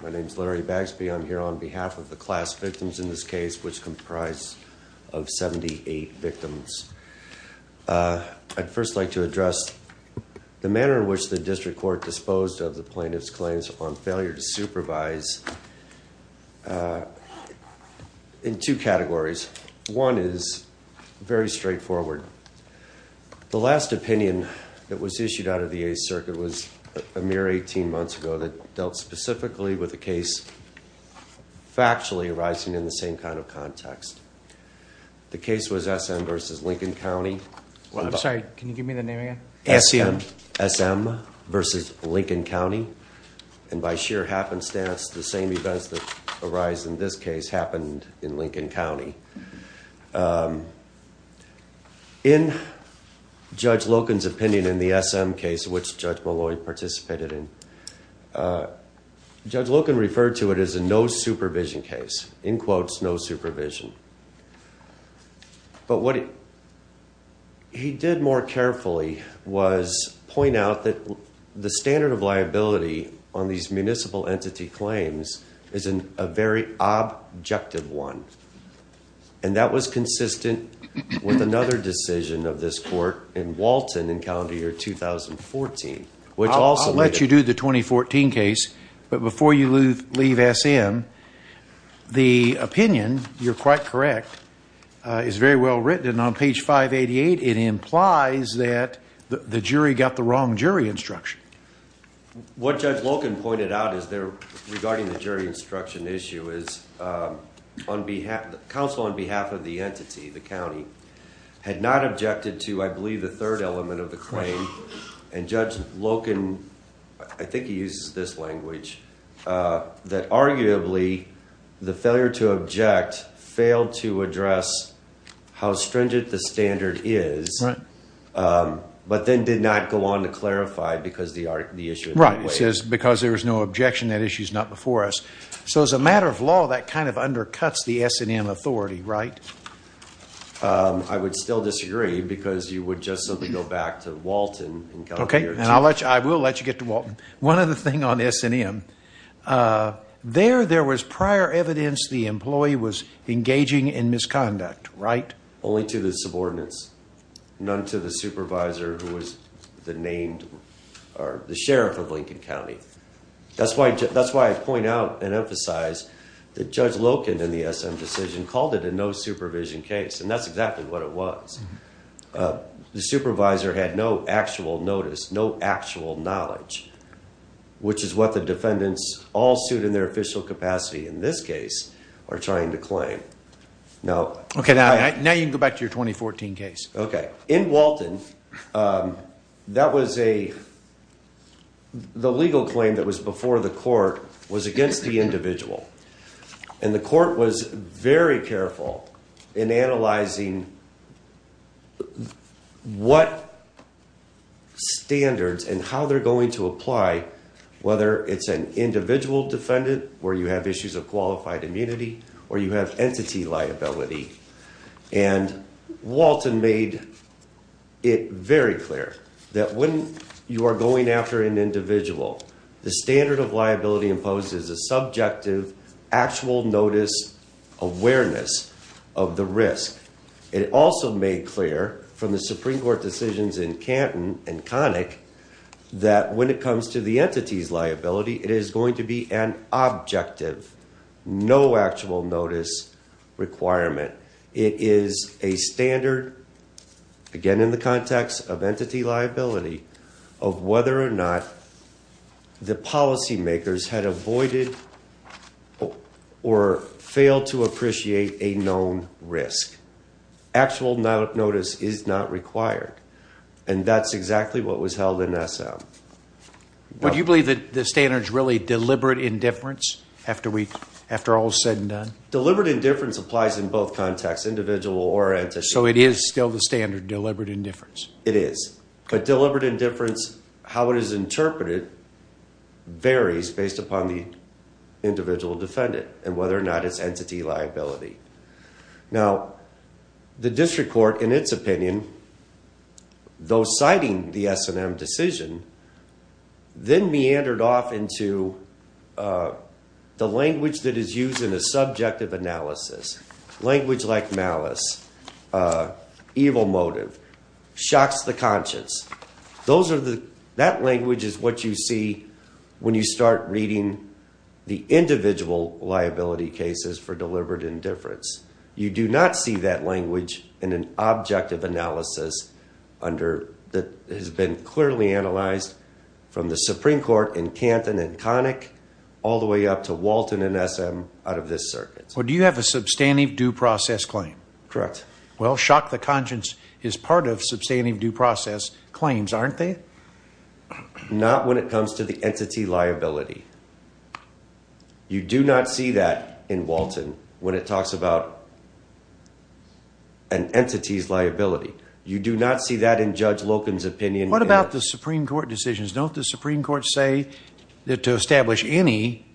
My name is Larry Bagsby. I'm here on behalf of the class victims in this case, which comprise of 78 victims. I'd first like to address the manner in which the district court disposed of the plaintiff's claims on failure to supervise in two categories. One is very straightforward. The last opinion that was issued out of the Eighth Circuit was a mere 18 months ago that dealt specifically with a case factually arising in the same kind of context. The case was S.M. v. Lincoln County. I'm sorry, can you give me the name again? S.M. S.M. v. Lincoln County. And by sheer happenstance, the same events that arise in this case happened in Lincoln County. In Judge Loken's opinion in the S.M. case, which Judge Molloy participated in, Judge Loken referred to it as a no supervision case. In quotes, no supervision. But what he did more carefully was point out that the standard of liability on these municipal entity claims is a very objective one. And that was consistent with another decision of this court in Walton in calendar year 2014. I'll let you do the 2014 case, but before you leave S.M., the opinion, you're quite correct, is very well written. On page 588, it implies that the jury got the wrong jury instruction. What Judge Loken pointed out regarding the jury instruction issue is counsel on behalf of the entity, the county, had not objected to, I believe, the third element of the claim. And Judge Loken, I think he uses this language, that arguably the failure to object failed to address how stringent the standard is, but then did not go on to clarify because the issue is not before us. So as a matter of law, that kind of undercuts the S&M authority, right? I would still disagree because you would just simply go back to Walton. I will let you get to Walton. One other thing on S&M, there was prior evidence the employee was engaging in misconduct, right? Only to the subordinates, none to the supervisor who was the named, or the sheriff of Lincoln County. That's why I point out and emphasize that Judge Loken in the S&M decision called it a no supervision case. And that's exactly what it was. The supervisor had no actual notice, no actual knowledge, which is what the defendants all suit in their official capacity in this case are trying to claim. Now you can go back to your 2014 case. In Walton, the legal claim that was before the court was against the individual. And the court was very careful in analyzing what standards and how they're going to apply, whether it's an individual defendant where you have issues of qualified immunity or you have entity liability. And Walton made it very clear that when you are going after an individual, the standard of liability imposes a subjective actual notice awareness of the risk. It also made clear from the Supreme Court decisions in Canton and Connick that when it comes to the entity's liability, it is going to be an objective, no actual notice requirement. It is a standard, again in the context of entity liability, of whether or not the policymakers had avoided or failed to appreciate a known risk. Actual notice is not required. And that's exactly what was held in S&M. Do you believe that the standard is really deliberate indifference after all is said and done? Deliberate indifference applies in both contexts, individual or entity. So it is still the standard, deliberate indifference? It is. But deliberate indifference, how it is interpreted, varies based upon the individual defendant and whether or not it's entity liability. Now, the district court, in its opinion, though citing the S&M decision, then meandered off into the language that is used in a subjective analysis, language like malice, evil motive. Shocks the conscience. That language is what you see when you start reading the individual liability cases for deliberate indifference. You do not see that language in an objective analysis that has been clearly analyzed from the Supreme Court in Canton and Connick all the way up to Walton and S&M out of this circuit. Do you have a substantive due process claim? Correct. Well, shock the conscience is part of substantive due process claims, aren't they? Not when it comes to the entity liability. You do not see that in Walton when it talks about an entity's liability. You do not see that in Judge Loken's opinion. What about the Supreme Court decisions? Don't the Supreme Court say that to establish any,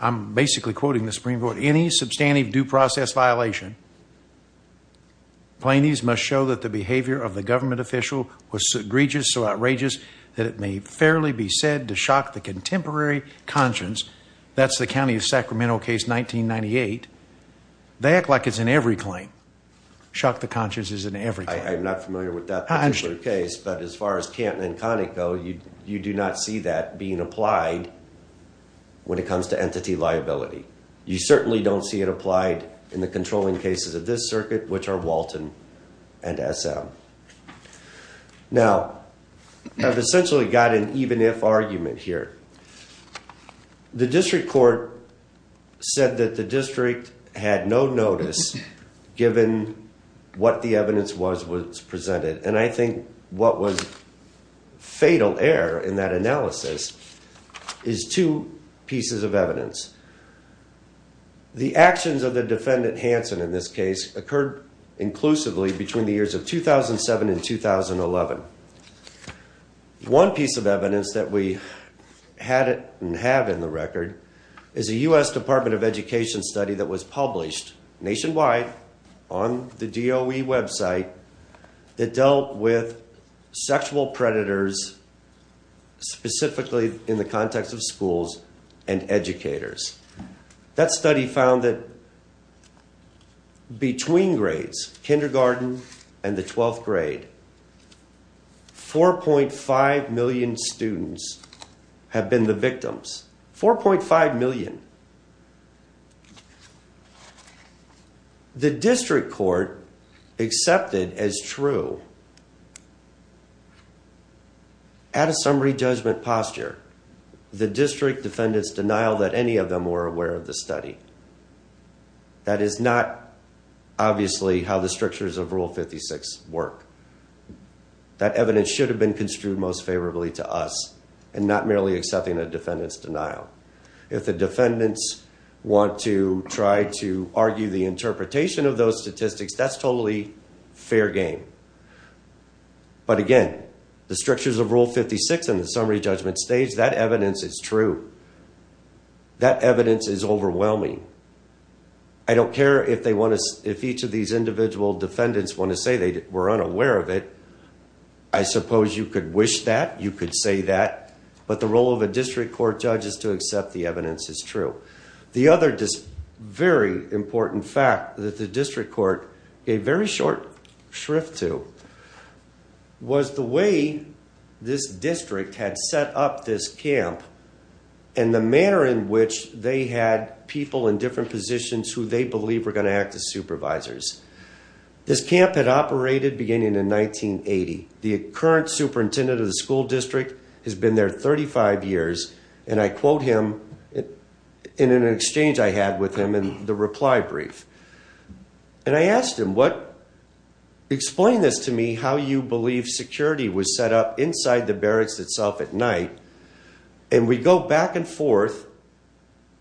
I'm basically quoting the Supreme Court, any substantive due process violation, plainties must show that the behavior of the government official was egregious, so outrageous that it may fairly be said to shock the contemporary conscience. That's the county of Sacramento case 1998. They act like it's in every claim. Shock the conscience is in every claim. I'm not familiar with that particular case. But as far as Canton and Connick go, you do not see that being applied when it comes to entity liability. You certainly don't see it applied in the controlling cases of this circuit, which are Walton and S&M. Now, I've essentially got an even if argument here. The district court said that the district had no notice given what the evidence was presented. And I think what was fatal error in that analysis is two pieces of evidence. The actions of the defendant, Hanson, in this case, occurred inclusively between the years of 2007 and 2011. One piece of evidence that we had and have in the record is a U.S. Department of Education study that was published nationwide on the DOE website that dealt with sexual predators, specifically in the context of schools and educators. That study found that between grades, kindergarten and the 12th grade, 4.5 million students have been the victims. 4.5 million. The district court accepted as true, at a summary judgment posture, the district defendant's denial that any of them were aware of the study. That is not obviously how the strictures of Rule 56 work. That evidence should have been construed most favorably to us and not merely accepting a defendant's denial. If the defendants want to try to argue the interpretation of those statistics, that's totally fair game. But again, the strictures of Rule 56 in the summary judgment stage, that evidence is true. That evidence is overwhelming. I don't care if each of these individual defendants want to say they were unaware of it. I suppose you could wish that, you could say that. But the role of a district court judge is to accept the evidence as true. The other very important fact that the district court gave very short shrift to was the way this district had set up this camp and the manner in which they had people in different positions who they believed were going to act as supervisors. This camp had operated beginning in 1980. The current superintendent of the school district has been there 35 years, and I quote him in an exchange I had with him in the reply brief. And I asked him, explain this to me, how you believe security was set up inside the barracks itself at night. And we go back and forth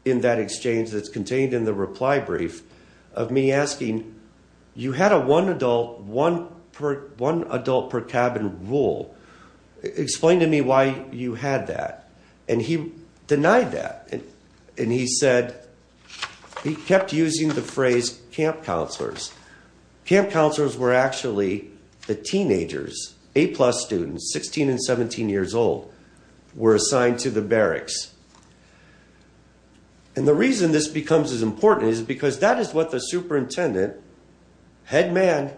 in that exchange that's contained in the reply brief of me asking, you had a one adult per cabin rule. Explain to me why you had that. And he denied that. And he said, he kept using the phrase camp counselors. Camp counselors were actually the teenagers, A plus students, 16 and 17 years old, were assigned to the barracks. And the reason this becomes as important is because that is what the superintendent, head man,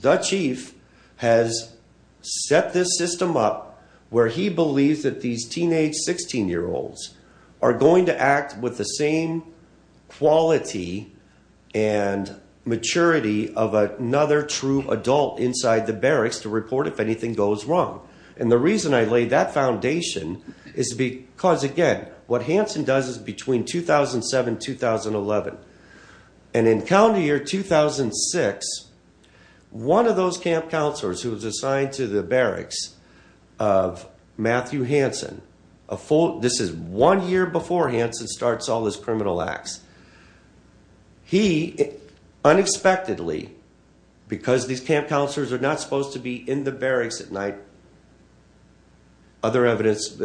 the chief, has set this system up where he believes that these teenage 16-year-olds are going to act with the same quality and maturity of another true adult inside the barracks to report if anything goes wrong. And the reason I laid that foundation is because, again, what Hansen does is between 2007, 2011, and in calendar year 2006, one of those camp counselors who was assigned to the barracks of Matthew Hansen, this is one year before Hansen starts all his criminal acts. He, unexpectedly, because these camp counselors are not supposed to be in the barracks at night. Other evidence,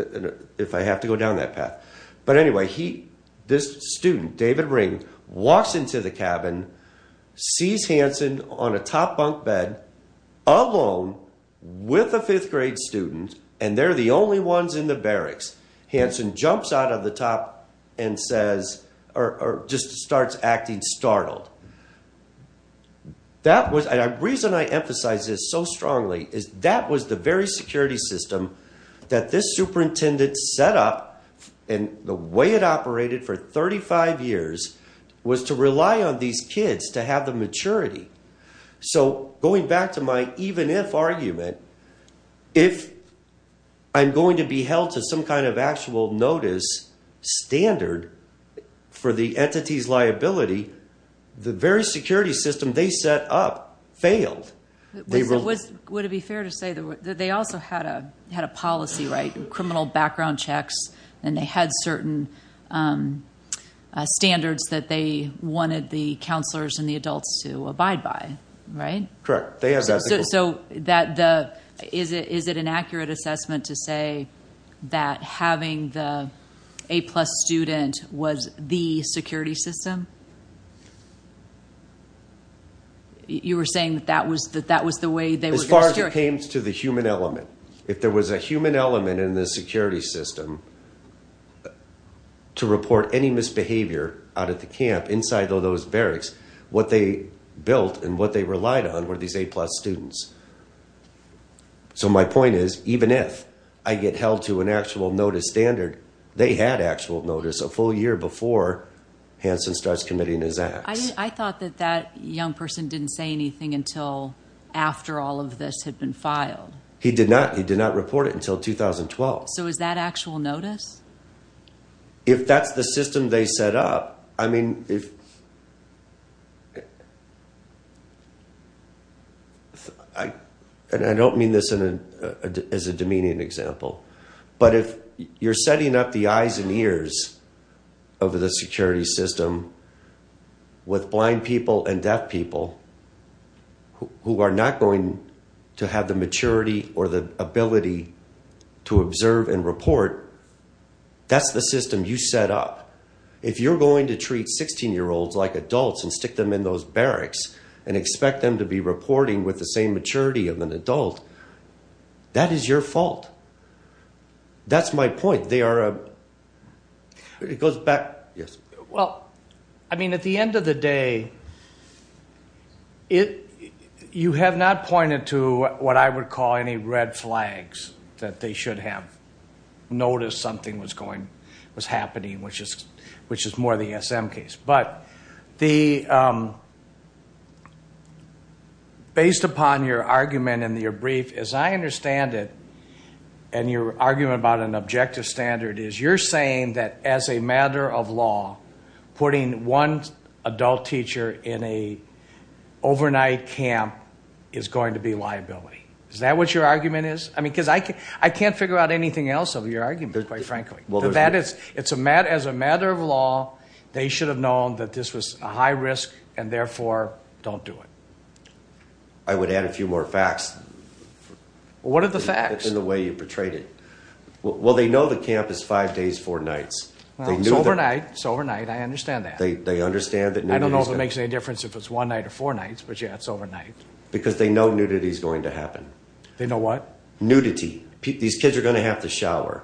if I have to go down that path. But anyway, this student, David Ring, walks into the cabin, sees Hansen on a top bunk bed, alone, with a fifth grade student, and they're the only ones in the barracks. Hansen jumps out of the top and says, or just starts acting startled. And the reason I emphasize this so strongly is that was the very security system that this superintendent set up and the way it operated for 35 years was to rely on these kids to have the maturity. So going back to my even-if argument, if I'm going to be held to some kind of actual notice standard for the entity's liability, the very security system they set up failed. Would it be fair to say that they also had a policy, right? Criminal background checks, and they had certain standards that they wanted the counselors and the adults to abide by, right? Correct. So is it an accurate assessment to say that having the A-plus student was the security system? You were saying that that was the way they were going to secure it? As far as it came to the human element. If there was a human element in the security system to report any misbehavior out at the camp inside of those barracks, what they built and what they relied on were these A-plus students. So my point is, even if I get held to an actual notice standard, they had actual notice a full year before Hanson starts committing his acts. I thought that that young person didn't say anything until after all of this had been filed. He did not. He did not report it until 2012. So is that actual notice? If that's the system they set up, I mean, and I don't mean this as a demeaning example, but if you're setting up the eyes and ears of the security system with blind people and deaf people who are not going to have the maturity or the ability to observe and report, that's the system you set up. If you're going to treat 16-year-olds like adults and stick them in those barracks and expect them to be reporting with the same maturity of an adult, that is your fault. That's my point. Well, I mean, at the end of the day, you have not pointed to what I would call any red flags that they should have noticed something was happening, which is more the SM case. But based upon your argument and your brief, as I understand it, and your argument about an objective standard is you're saying that as a matter of law, putting one adult teacher in an overnight camp is going to be liability. Is that what your argument is? I mean, because I can't figure out anything else of your argument, quite frankly. As a matter of law, they should have known that this was a high risk and, therefore, don't do it. I would add a few more facts. What are the facts? In the way you portrayed it. Well, they know the camp is five days, four nights. It's overnight. It's overnight. I understand that. They understand that nudity is going to happen. I don't know if it makes any difference if it's one night or four nights, but, yeah, it's overnight. Because they know nudity is going to happen. They know what? Nudity. These kids are going to have to shower.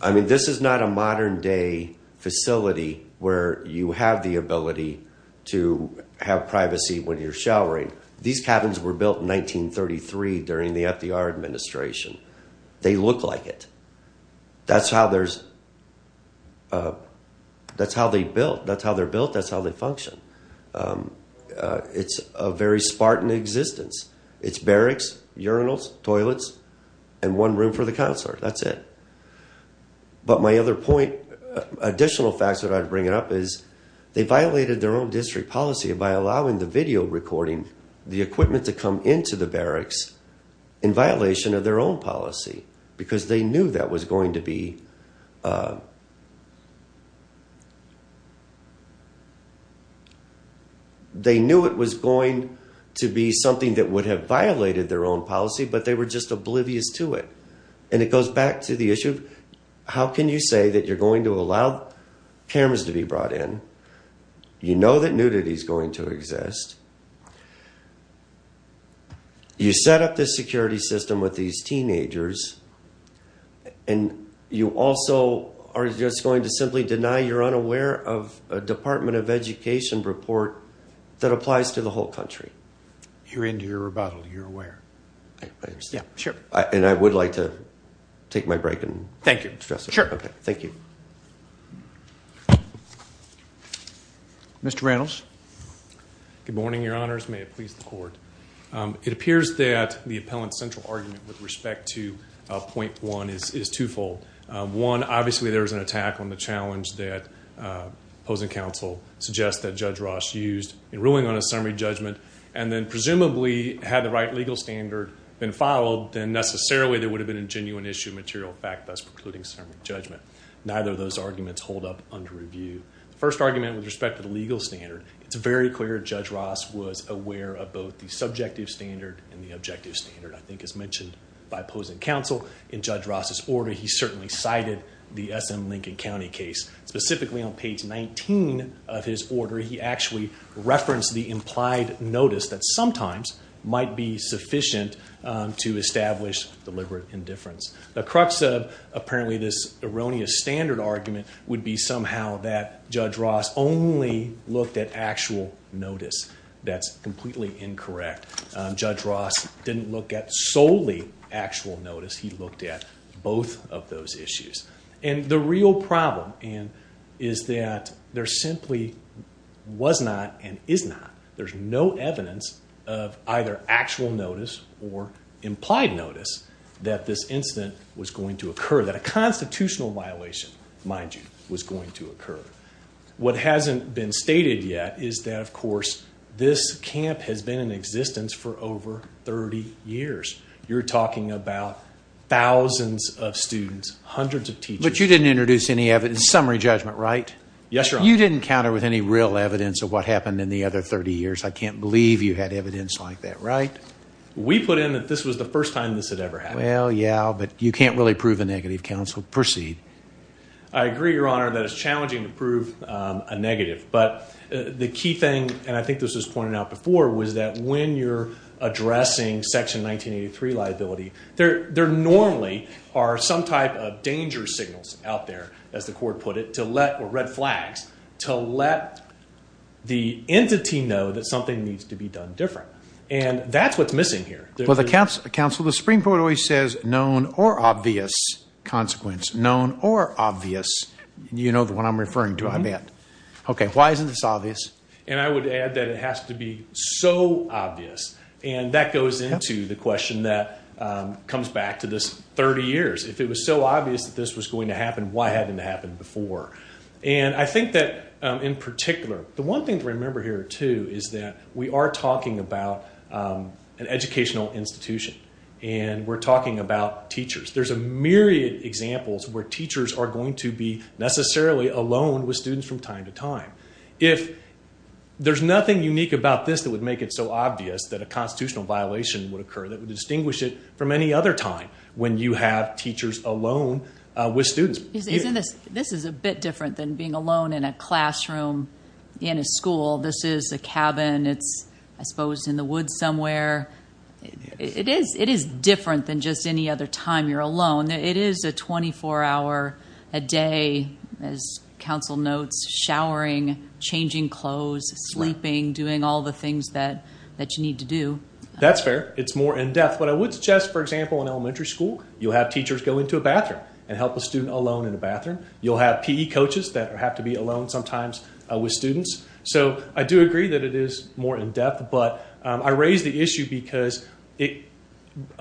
I mean, this is not a modern day facility where you have the ability to have privacy when you're showering. These cabins were built in 1933 during the FDR administration. They look like it. That's how they're built. That's how they function. It's a very spartan existence. It's barracks, urinals, toilets, and one room for the counselor. That's it. But my other point, additional facts that I'd bring up is they violated their own district policy by allowing the video recording, the equipment to come into the barracks in violation of their own policy because they knew that was going to be. They knew it was going to be something that would have violated their own policy, but they were just oblivious to it. It goes back to the issue of how can you say that you're going to allow cameras to be brought in. You know that nudity is going to exist. You set up this security system with these teenagers, and you also are just going to simply deny you're unaware of a Department of Education report that applies to the whole country. You're into your rebuttal. You're aware. Sure. I would like to take my break. Thank you. Thank you. Mr. Reynolds. Good morning, your honors. May it please the court. It appears that the appellant's central argument with respect to point one is twofold. One, obviously there was an attack on the challenge that opposing counsel suggests that Judge Ross used in ruling on a summary judgment and then presumably had the right legal standard been followed, then necessarily there would have been a genuine issue of material fact thus precluding summary judgment. Neither of those arguments hold up under review. The first argument with respect to the legal standard, it's very clear Judge Ross was aware of both the subjective standard and the objective standard, I think, as mentioned by opposing counsel. In Judge Ross's order, he certainly cited the SM Lincoln County case. Specifically on page 19 of his order, he actually referenced the implied notice that sometimes might be sufficient to establish deliberate indifference. The crux of apparently this erroneous standard argument would be somehow that Judge Ross only looked at actual notice. That's completely incorrect. Judge Ross didn't look at solely actual notice. He looked at both of those issues. The real problem is that there simply was not and is not, there's no evidence of either actual notice or implied notice that this incident was going to occur, that a constitutional violation, mind you, was going to occur. What hasn't been stated yet is that, of course, this camp has been in existence for over 30 years. You're talking about thousands of students, hundreds of teachers. But you didn't introduce any evidence, summary judgment, right? Yes, Your Honor. You didn't counter with any real evidence of what happened in the other 30 years. I can't believe you had evidence like that, right? We put in that this was the first time this had ever happened. Well, yeah, but you can't really prove a negative, counsel. Proceed. I agree, Your Honor, that it's challenging to prove a negative. But the key thing, and I think this was pointed out before, was that when you're addressing Section 1983 liability, there normally are some type of danger signals out there, as the court put it, or red flags, to let the entity know that something needs to be done different. And that's what's missing here. Counsel, the Supreme Court always says known or obvious consequence, known or obvious. You know the one I'm referring to, I bet. Okay, why isn't this obvious? And I would add that it has to be so obvious. And that goes into the question that comes back to this 30 years. If it was so obvious that this was going to happen, why hadn't it happened before? And I think that, in particular, the one thing to remember here, too, is that we are talking about an educational institution. And we're talking about teachers. There's a myriad of examples where teachers are going to be necessarily alone with students from time to time. If there's nothing unique about this that would make it so obvious that a constitutional violation would occur that would distinguish it from any other time when you have teachers alone with students. This is a bit different than being alone in a classroom in a school. This is a cabin. It's, I suppose, in the woods somewhere. It is different than just any other time you're alone. It is a 24-hour a day, as counsel notes, showering, changing clothes, sleeping, doing all the things that you need to do. That's fair. It's more in-depth. But I would suggest, for example, in elementary school, you'll have teachers go into a bathroom and help a student alone in a bathroom. You'll have PE coaches that have to be alone sometimes with students. So I do agree that it is more in-depth, but I raise the issue because a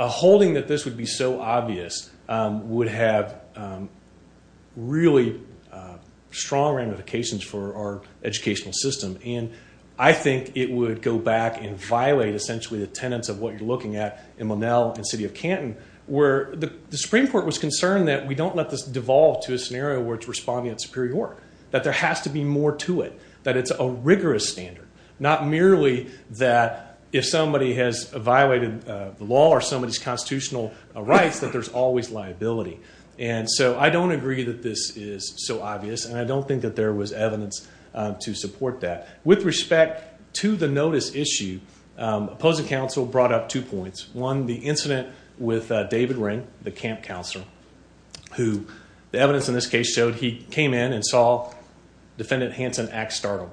holding that this would be so obvious would have really strong ramifications for our educational system. And I think it would go back and violate, essentially, the tenets of what you're looking at in Monell and City of Canton where the Supreme Court was concerned that we don't let this devolve to a scenario where it's responding at Superior Court, that there has to be more to it. That it's a rigorous standard, not merely that if somebody has violated the law or somebody's constitutional rights that there's always liability. And so I don't agree that this is so obvious, and I don't think that there was evidence to support that. With respect to the notice issue, opposing counsel brought up two points. One, the incident with David Wren, the camp counselor, who the evidence in this case showed he came in and saw Defendant Hanson act startled.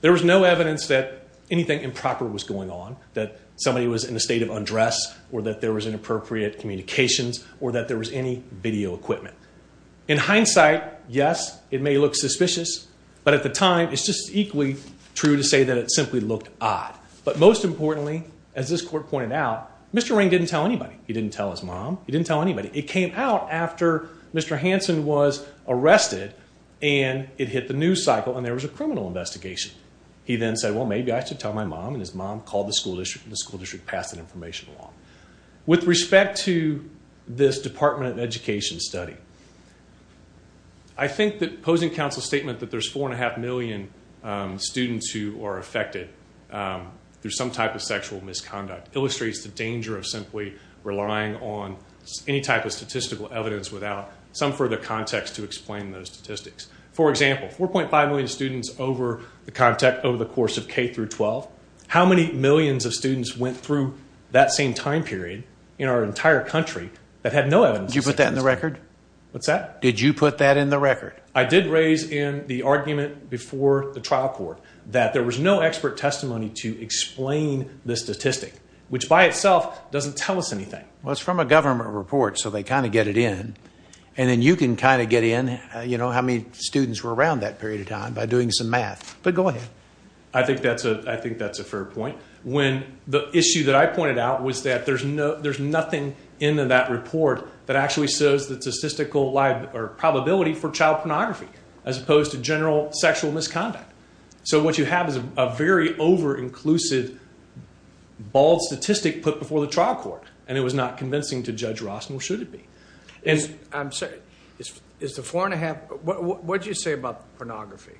There was no evidence that anything improper was going on, that somebody was in a state of undress or that there was inappropriate communications or that there was any video equipment. In hindsight, yes, it may look suspicious. But at the time, it's just equally true to say that it simply looked odd. But most importantly, as this court pointed out, Mr. Wren didn't tell anybody. He didn't tell his mom. He didn't tell anybody. It came out after Mr. Hanson was arrested, and it hit the news cycle, and there was a criminal investigation. He then said, well, maybe I should tell my mom, and his mom called the school district, and the school district passed that information along. With respect to this Department of Education study, I think that opposing counsel's statement that there's 4.5 million students who are affected through some type of sexual misconduct illustrates the danger of simply relying on any type of statistical evidence without some further context to explain those statistics. For example, 4.5 million students over the course of K through 12. How many millions of students went through that same time period in our entire country that had no evidence? Did you put that in the record? What's that? Did you put that in the record? I did raise in the argument before the trial court that there was no expert testimony to explain the statistic, which by itself doesn't tell us anything. Well, it's from a government report, so they kind of get it in, and then you can kind of get in. You know how many students were around that period of time by doing some math, but go ahead. I think that's a fair point. The issue that I pointed out was that there's nothing in that report that actually shows the statistical probability for child pornography as opposed to general sexual misconduct. So what you have is a very over-inclusive, bald statistic put before the trial court, and it was not convincing to Judge Ross, nor should it be. What did you say about pornography?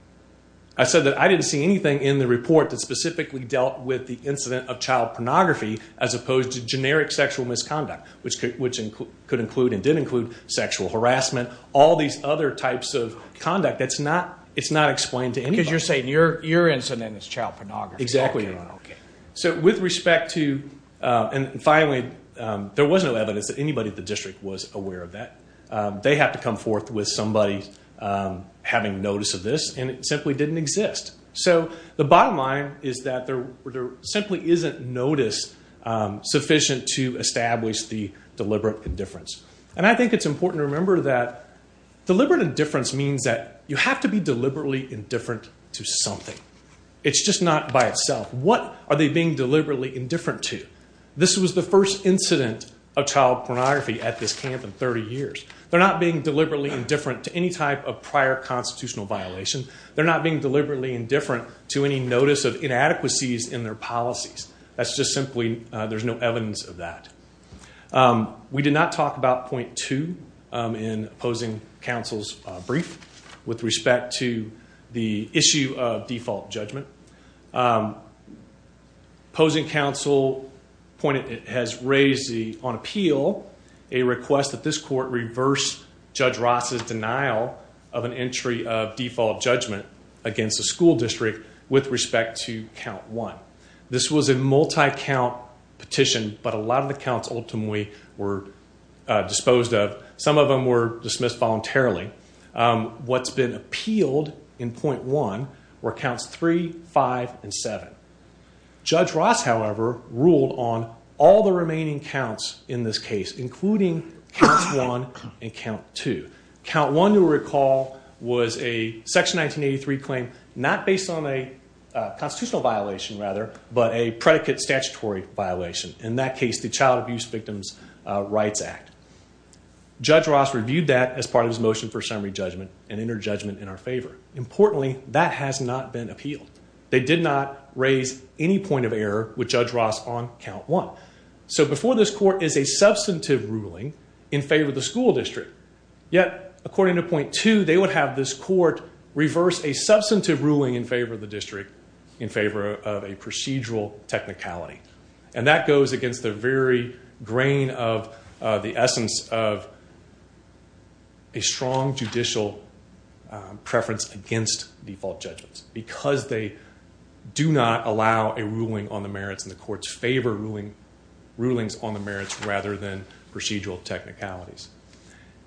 I said that I didn't see anything in the report that specifically dealt with the incident of child pornography as opposed to generic sexual misconduct, which could include and did include sexual harassment, all these other types of conduct. It's not explained to anybody. Because you're saying your incident is child pornography. Exactly. Okay. Finally, there was no evidence that anybody at the district was aware of that. They have to come forth with somebody having notice of this, and it simply didn't exist. So the bottom line is that there simply isn't notice sufficient to establish the deliberate indifference. And I think it's important to remember that deliberate indifference means that you have to be deliberately indifferent to something. It's just not by itself. What are they being deliberately indifferent to? This was the first incident of child pornography at this camp in 30 years. They're not being deliberately indifferent to any type of prior constitutional violation. They're not being deliberately indifferent to any notice of inadequacies in their policies. That's just simply there's no evidence of that. We did not talk about point two in opposing counsel's brief with respect to the issue of default judgment. Opposing counsel has raised on appeal a request that this court reverse Judge Ross' denial of an entry of default judgment against the school district with respect to count one. This was a multi-count petition, but a lot of the counts ultimately were disposed of. Some of them were dismissed voluntarily. What's been appealed in point one were counts three, five, and seven. Judge Ross, however, ruled on all the remaining counts in this case, including count one and count two. Count one, you'll recall, was a section 1983 claim not based on a constitutional violation, rather, but a predicate statutory violation. In that case, the Child Abuse Victims' Rights Act. Judge Ross reviewed that as part of his motion for summary judgment and entered judgment in our favor. Importantly, that has not been appealed. They did not raise any point of error with Judge Ross on count one. Before this court is a substantive ruling in favor of the school district. Yet, according to point two, they would have this court reverse a substantive ruling in favor of the district in favor of a procedural technicality. That goes against the very grain of the essence of a strong judicial preference against default judgments because they do not allow a ruling on the merits and the courts favor rulings on the merits rather than procedural technicalities.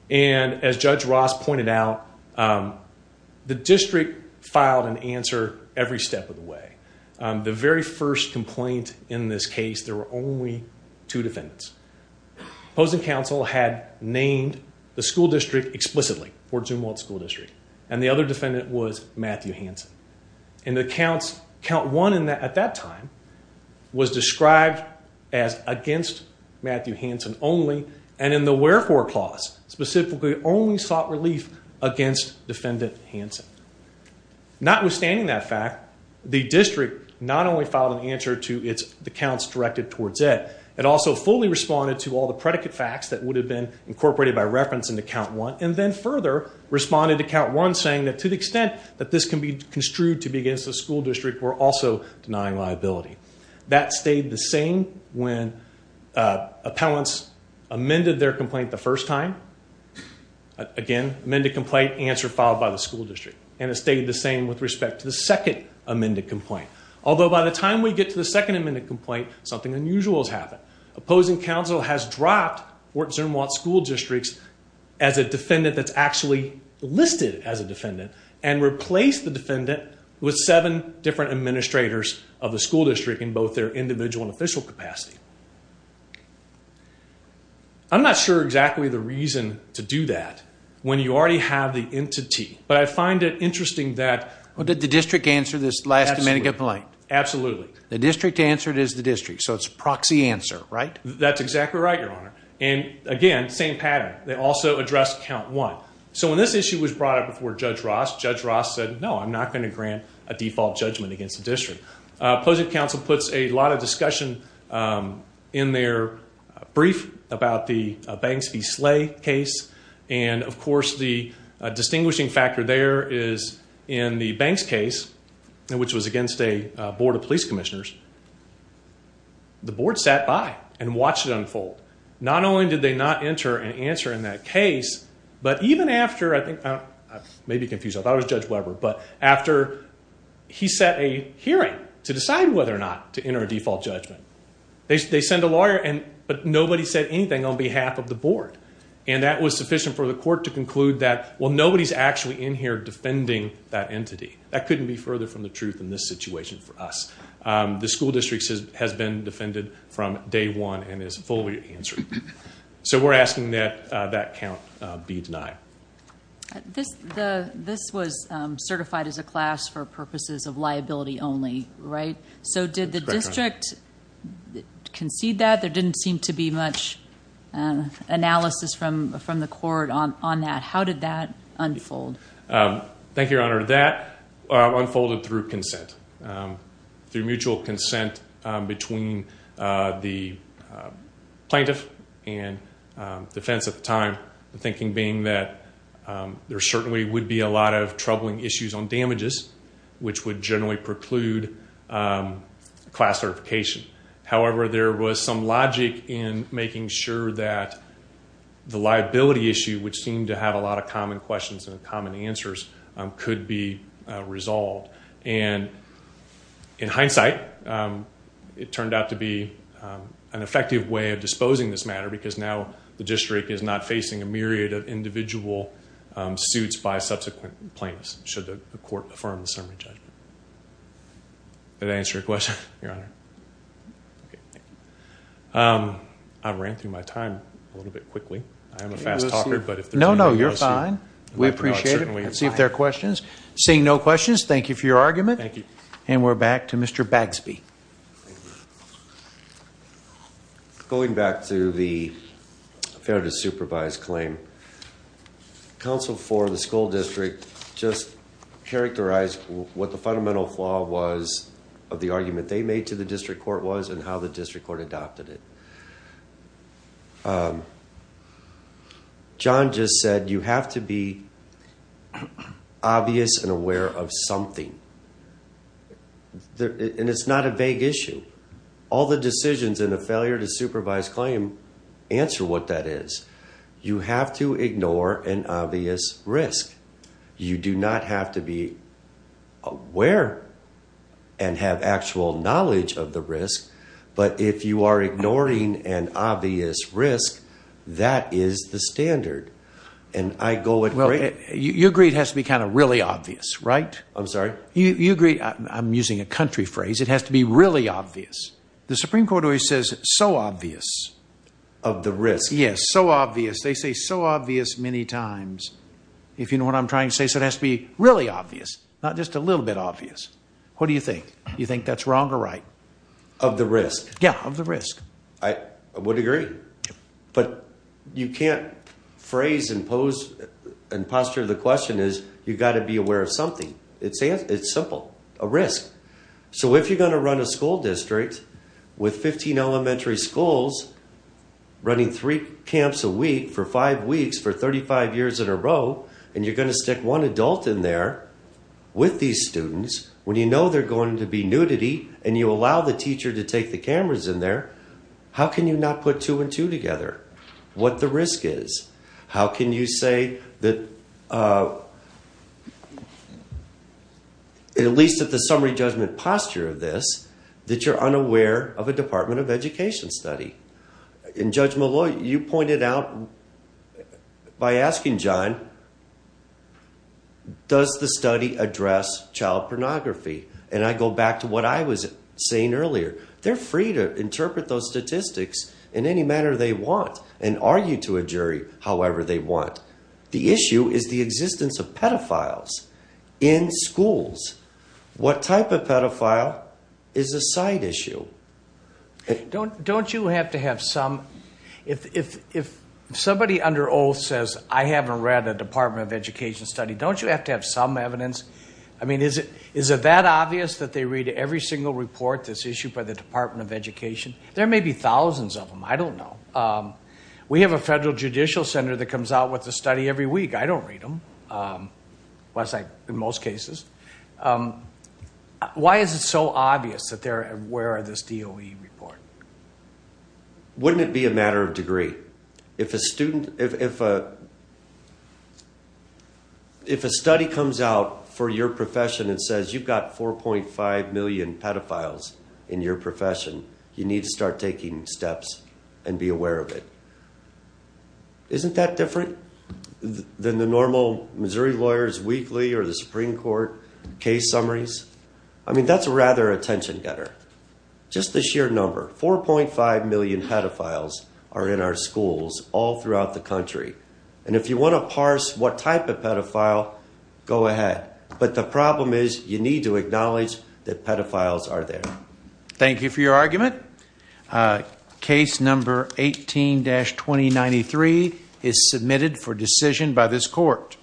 As Judge Ross pointed out, the district filed an answer every step of the way. The very first complaint in this case, there were only two defendants. Opposing counsel had named the school district explicitly, Fort Zumwalt School District. And the other defendant was Matthew Hansen. In the counts, count one at that time was described as against Matthew Hansen only. And in the wherefore clause, specifically only sought relief against defendant Hansen. Notwithstanding that fact, the district not only filed an answer to the counts directed towards it. It also fully responded to all the predicate facts that would have been incorporated by reference into count one. And then further responded to count one saying that to the extent that this can be construed to be against the school district, we're also denying liability. That stayed the same when appellants amended their complaint the first time. Again, amended complaint, answer filed by the school district. And it stayed the same with respect to the second amended complaint. Although by the time we get to the second amended complaint, something unusual has happened. Opposing counsel has dropped Fort Zumwalt School District as a defendant that's actually listed as a defendant. And replaced the defendant with seven different administrators of the school district in both their individual and official capacity. I'm not sure exactly the reason to do that when you already have the entity. But I find it interesting that... Did the district answer this last amended complaint? Absolutely. The district answered it as the district, so it's proxy answer, right? That's exactly right, Your Honor. And again, same pattern. They also addressed count one. So when this issue was brought up before Judge Ross, Judge Ross said, no, I'm not going to grant a default judgment against the district. Opposing counsel puts a lot of discussion in their brief about the Banks v. Slay case. And, of course, the distinguishing factor there is in the Banks case, which was against a board of police commissioners. The board sat by and watched it unfold. Not only did they not enter an answer in that case, but even after... I may be confused. I thought it was Judge Weber. But after he set a hearing to decide whether or not to enter a default judgment, they send a lawyer. But nobody said anything on behalf of the board. And that was sufficient for the court to conclude that, well, nobody's actually in here defending that entity. That couldn't be further from the truth in this situation for us. The school district has been defended from day one and is fully answered. So we're asking that that count be denied. This was certified as a class for purposes of liability only, right? So did the district concede that? There didn't seem to be much analysis from the court on that. How did that unfold? Thank you, Your Honor. That unfolded through consent, through mutual consent between the plaintiff and defense at the time. The thinking being that there certainly would be a lot of troubling issues on damages, which would generally preclude class certification. However, there was some logic in making sure that the liability issue, which seemed to have a lot of common questions and common answers, could be resolved. And in hindsight, it turned out to be an effective way of disposing this matter because now the district is not facing a myriad of individual suits by subsequent plaintiffs, should the court affirm the summary judgment. Did I answer your question, Your Honor? I ran through my time a little bit quickly. I am a fast talker. No, no, you're fine. We appreciate it. Let's see if there are questions. Seeing no questions, thank you for your argument. Thank you. And we're back to Mr. Bagsby. Going back to the fair to supervise claim, counsel for the school district just characterized what the fundamental flaw was of the argument they made to the district court was and how the district court adopted it. John just said you have to be obvious and aware of something. And it's not a vague issue. All the decisions in the failure to supervise claim answer what that is. You have to ignore an obvious risk. You do not have to be aware and have actual knowledge of the risk. But if you are ignoring an obvious risk, that is the standard. And I go with great. You agree it has to be kind of really obvious, right? I'm sorry? You agree. I'm using a country phrase. It has to be really obvious. The Supreme Court always says so obvious. Of the risk. Yes. So obvious. They say so obvious many times. If you know what I'm trying to say. So it has to be really obvious, not just a little bit obvious. What do you think? You think that's wrong or right? Of the risk. Yeah. Of the risk. I would agree. But you can't phrase and pose and posture. The question is, you've got to be aware of something. It's it's simple. A risk. So if you're going to run a school district. With 15 elementary schools. Running three camps a week for five weeks for 35 years in a row. And you're going to stick one adult in there. With these students. When you know they're going to be nudity. And you allow the teacher to take the cameras in there. How can you not put two and two together? What the risk is. How can you say that? At least at the summary judgment posture of this. That you're unaware of a department of education study. In judgment. You pointed out. By asking John. Does the study address child pornography? And I go back to what I was saying earlier. They're free to interpret those statistics. In any manner they want. And argue to a jury. However, they want. The issue is the existence of pedophiles. In schools. What type of pedophile. Is a side issue. Don't don't you have to have some. If if if. Somebody under old says. I haven't read a department of education study. Don't you have to have some evidence. I mean, is it. Is it that obvious that they read every single report. This issue by the department of education. There may be thousands of them. I don't know. We have a federal judicial center. That comes out with the study every week. I don't read them. Was I in most cases. Why is it so obvious that they're aware of this deal. We report. Wouldn't it be a matter of degree. If a student. If. If a study comes out for your profession. It says you've got 4.5 million pedophiles. In your profession. You need to start taking steps. And be aware of it. Isn't that different. Than the normal Missouri lawyers weekly or the Supreme Court. Case summaries. I mean, that's rather attention getter. Just the sheer number 4.5 million pedophiles. Are in our schools all throughout the country. And if you want to parse what type of pedophile. Go ahead. But the problem is you need to acknowledge that pedophiles are there. Thank you for your argument. Case number 18 dash. 2093 is submitted for decision by this court.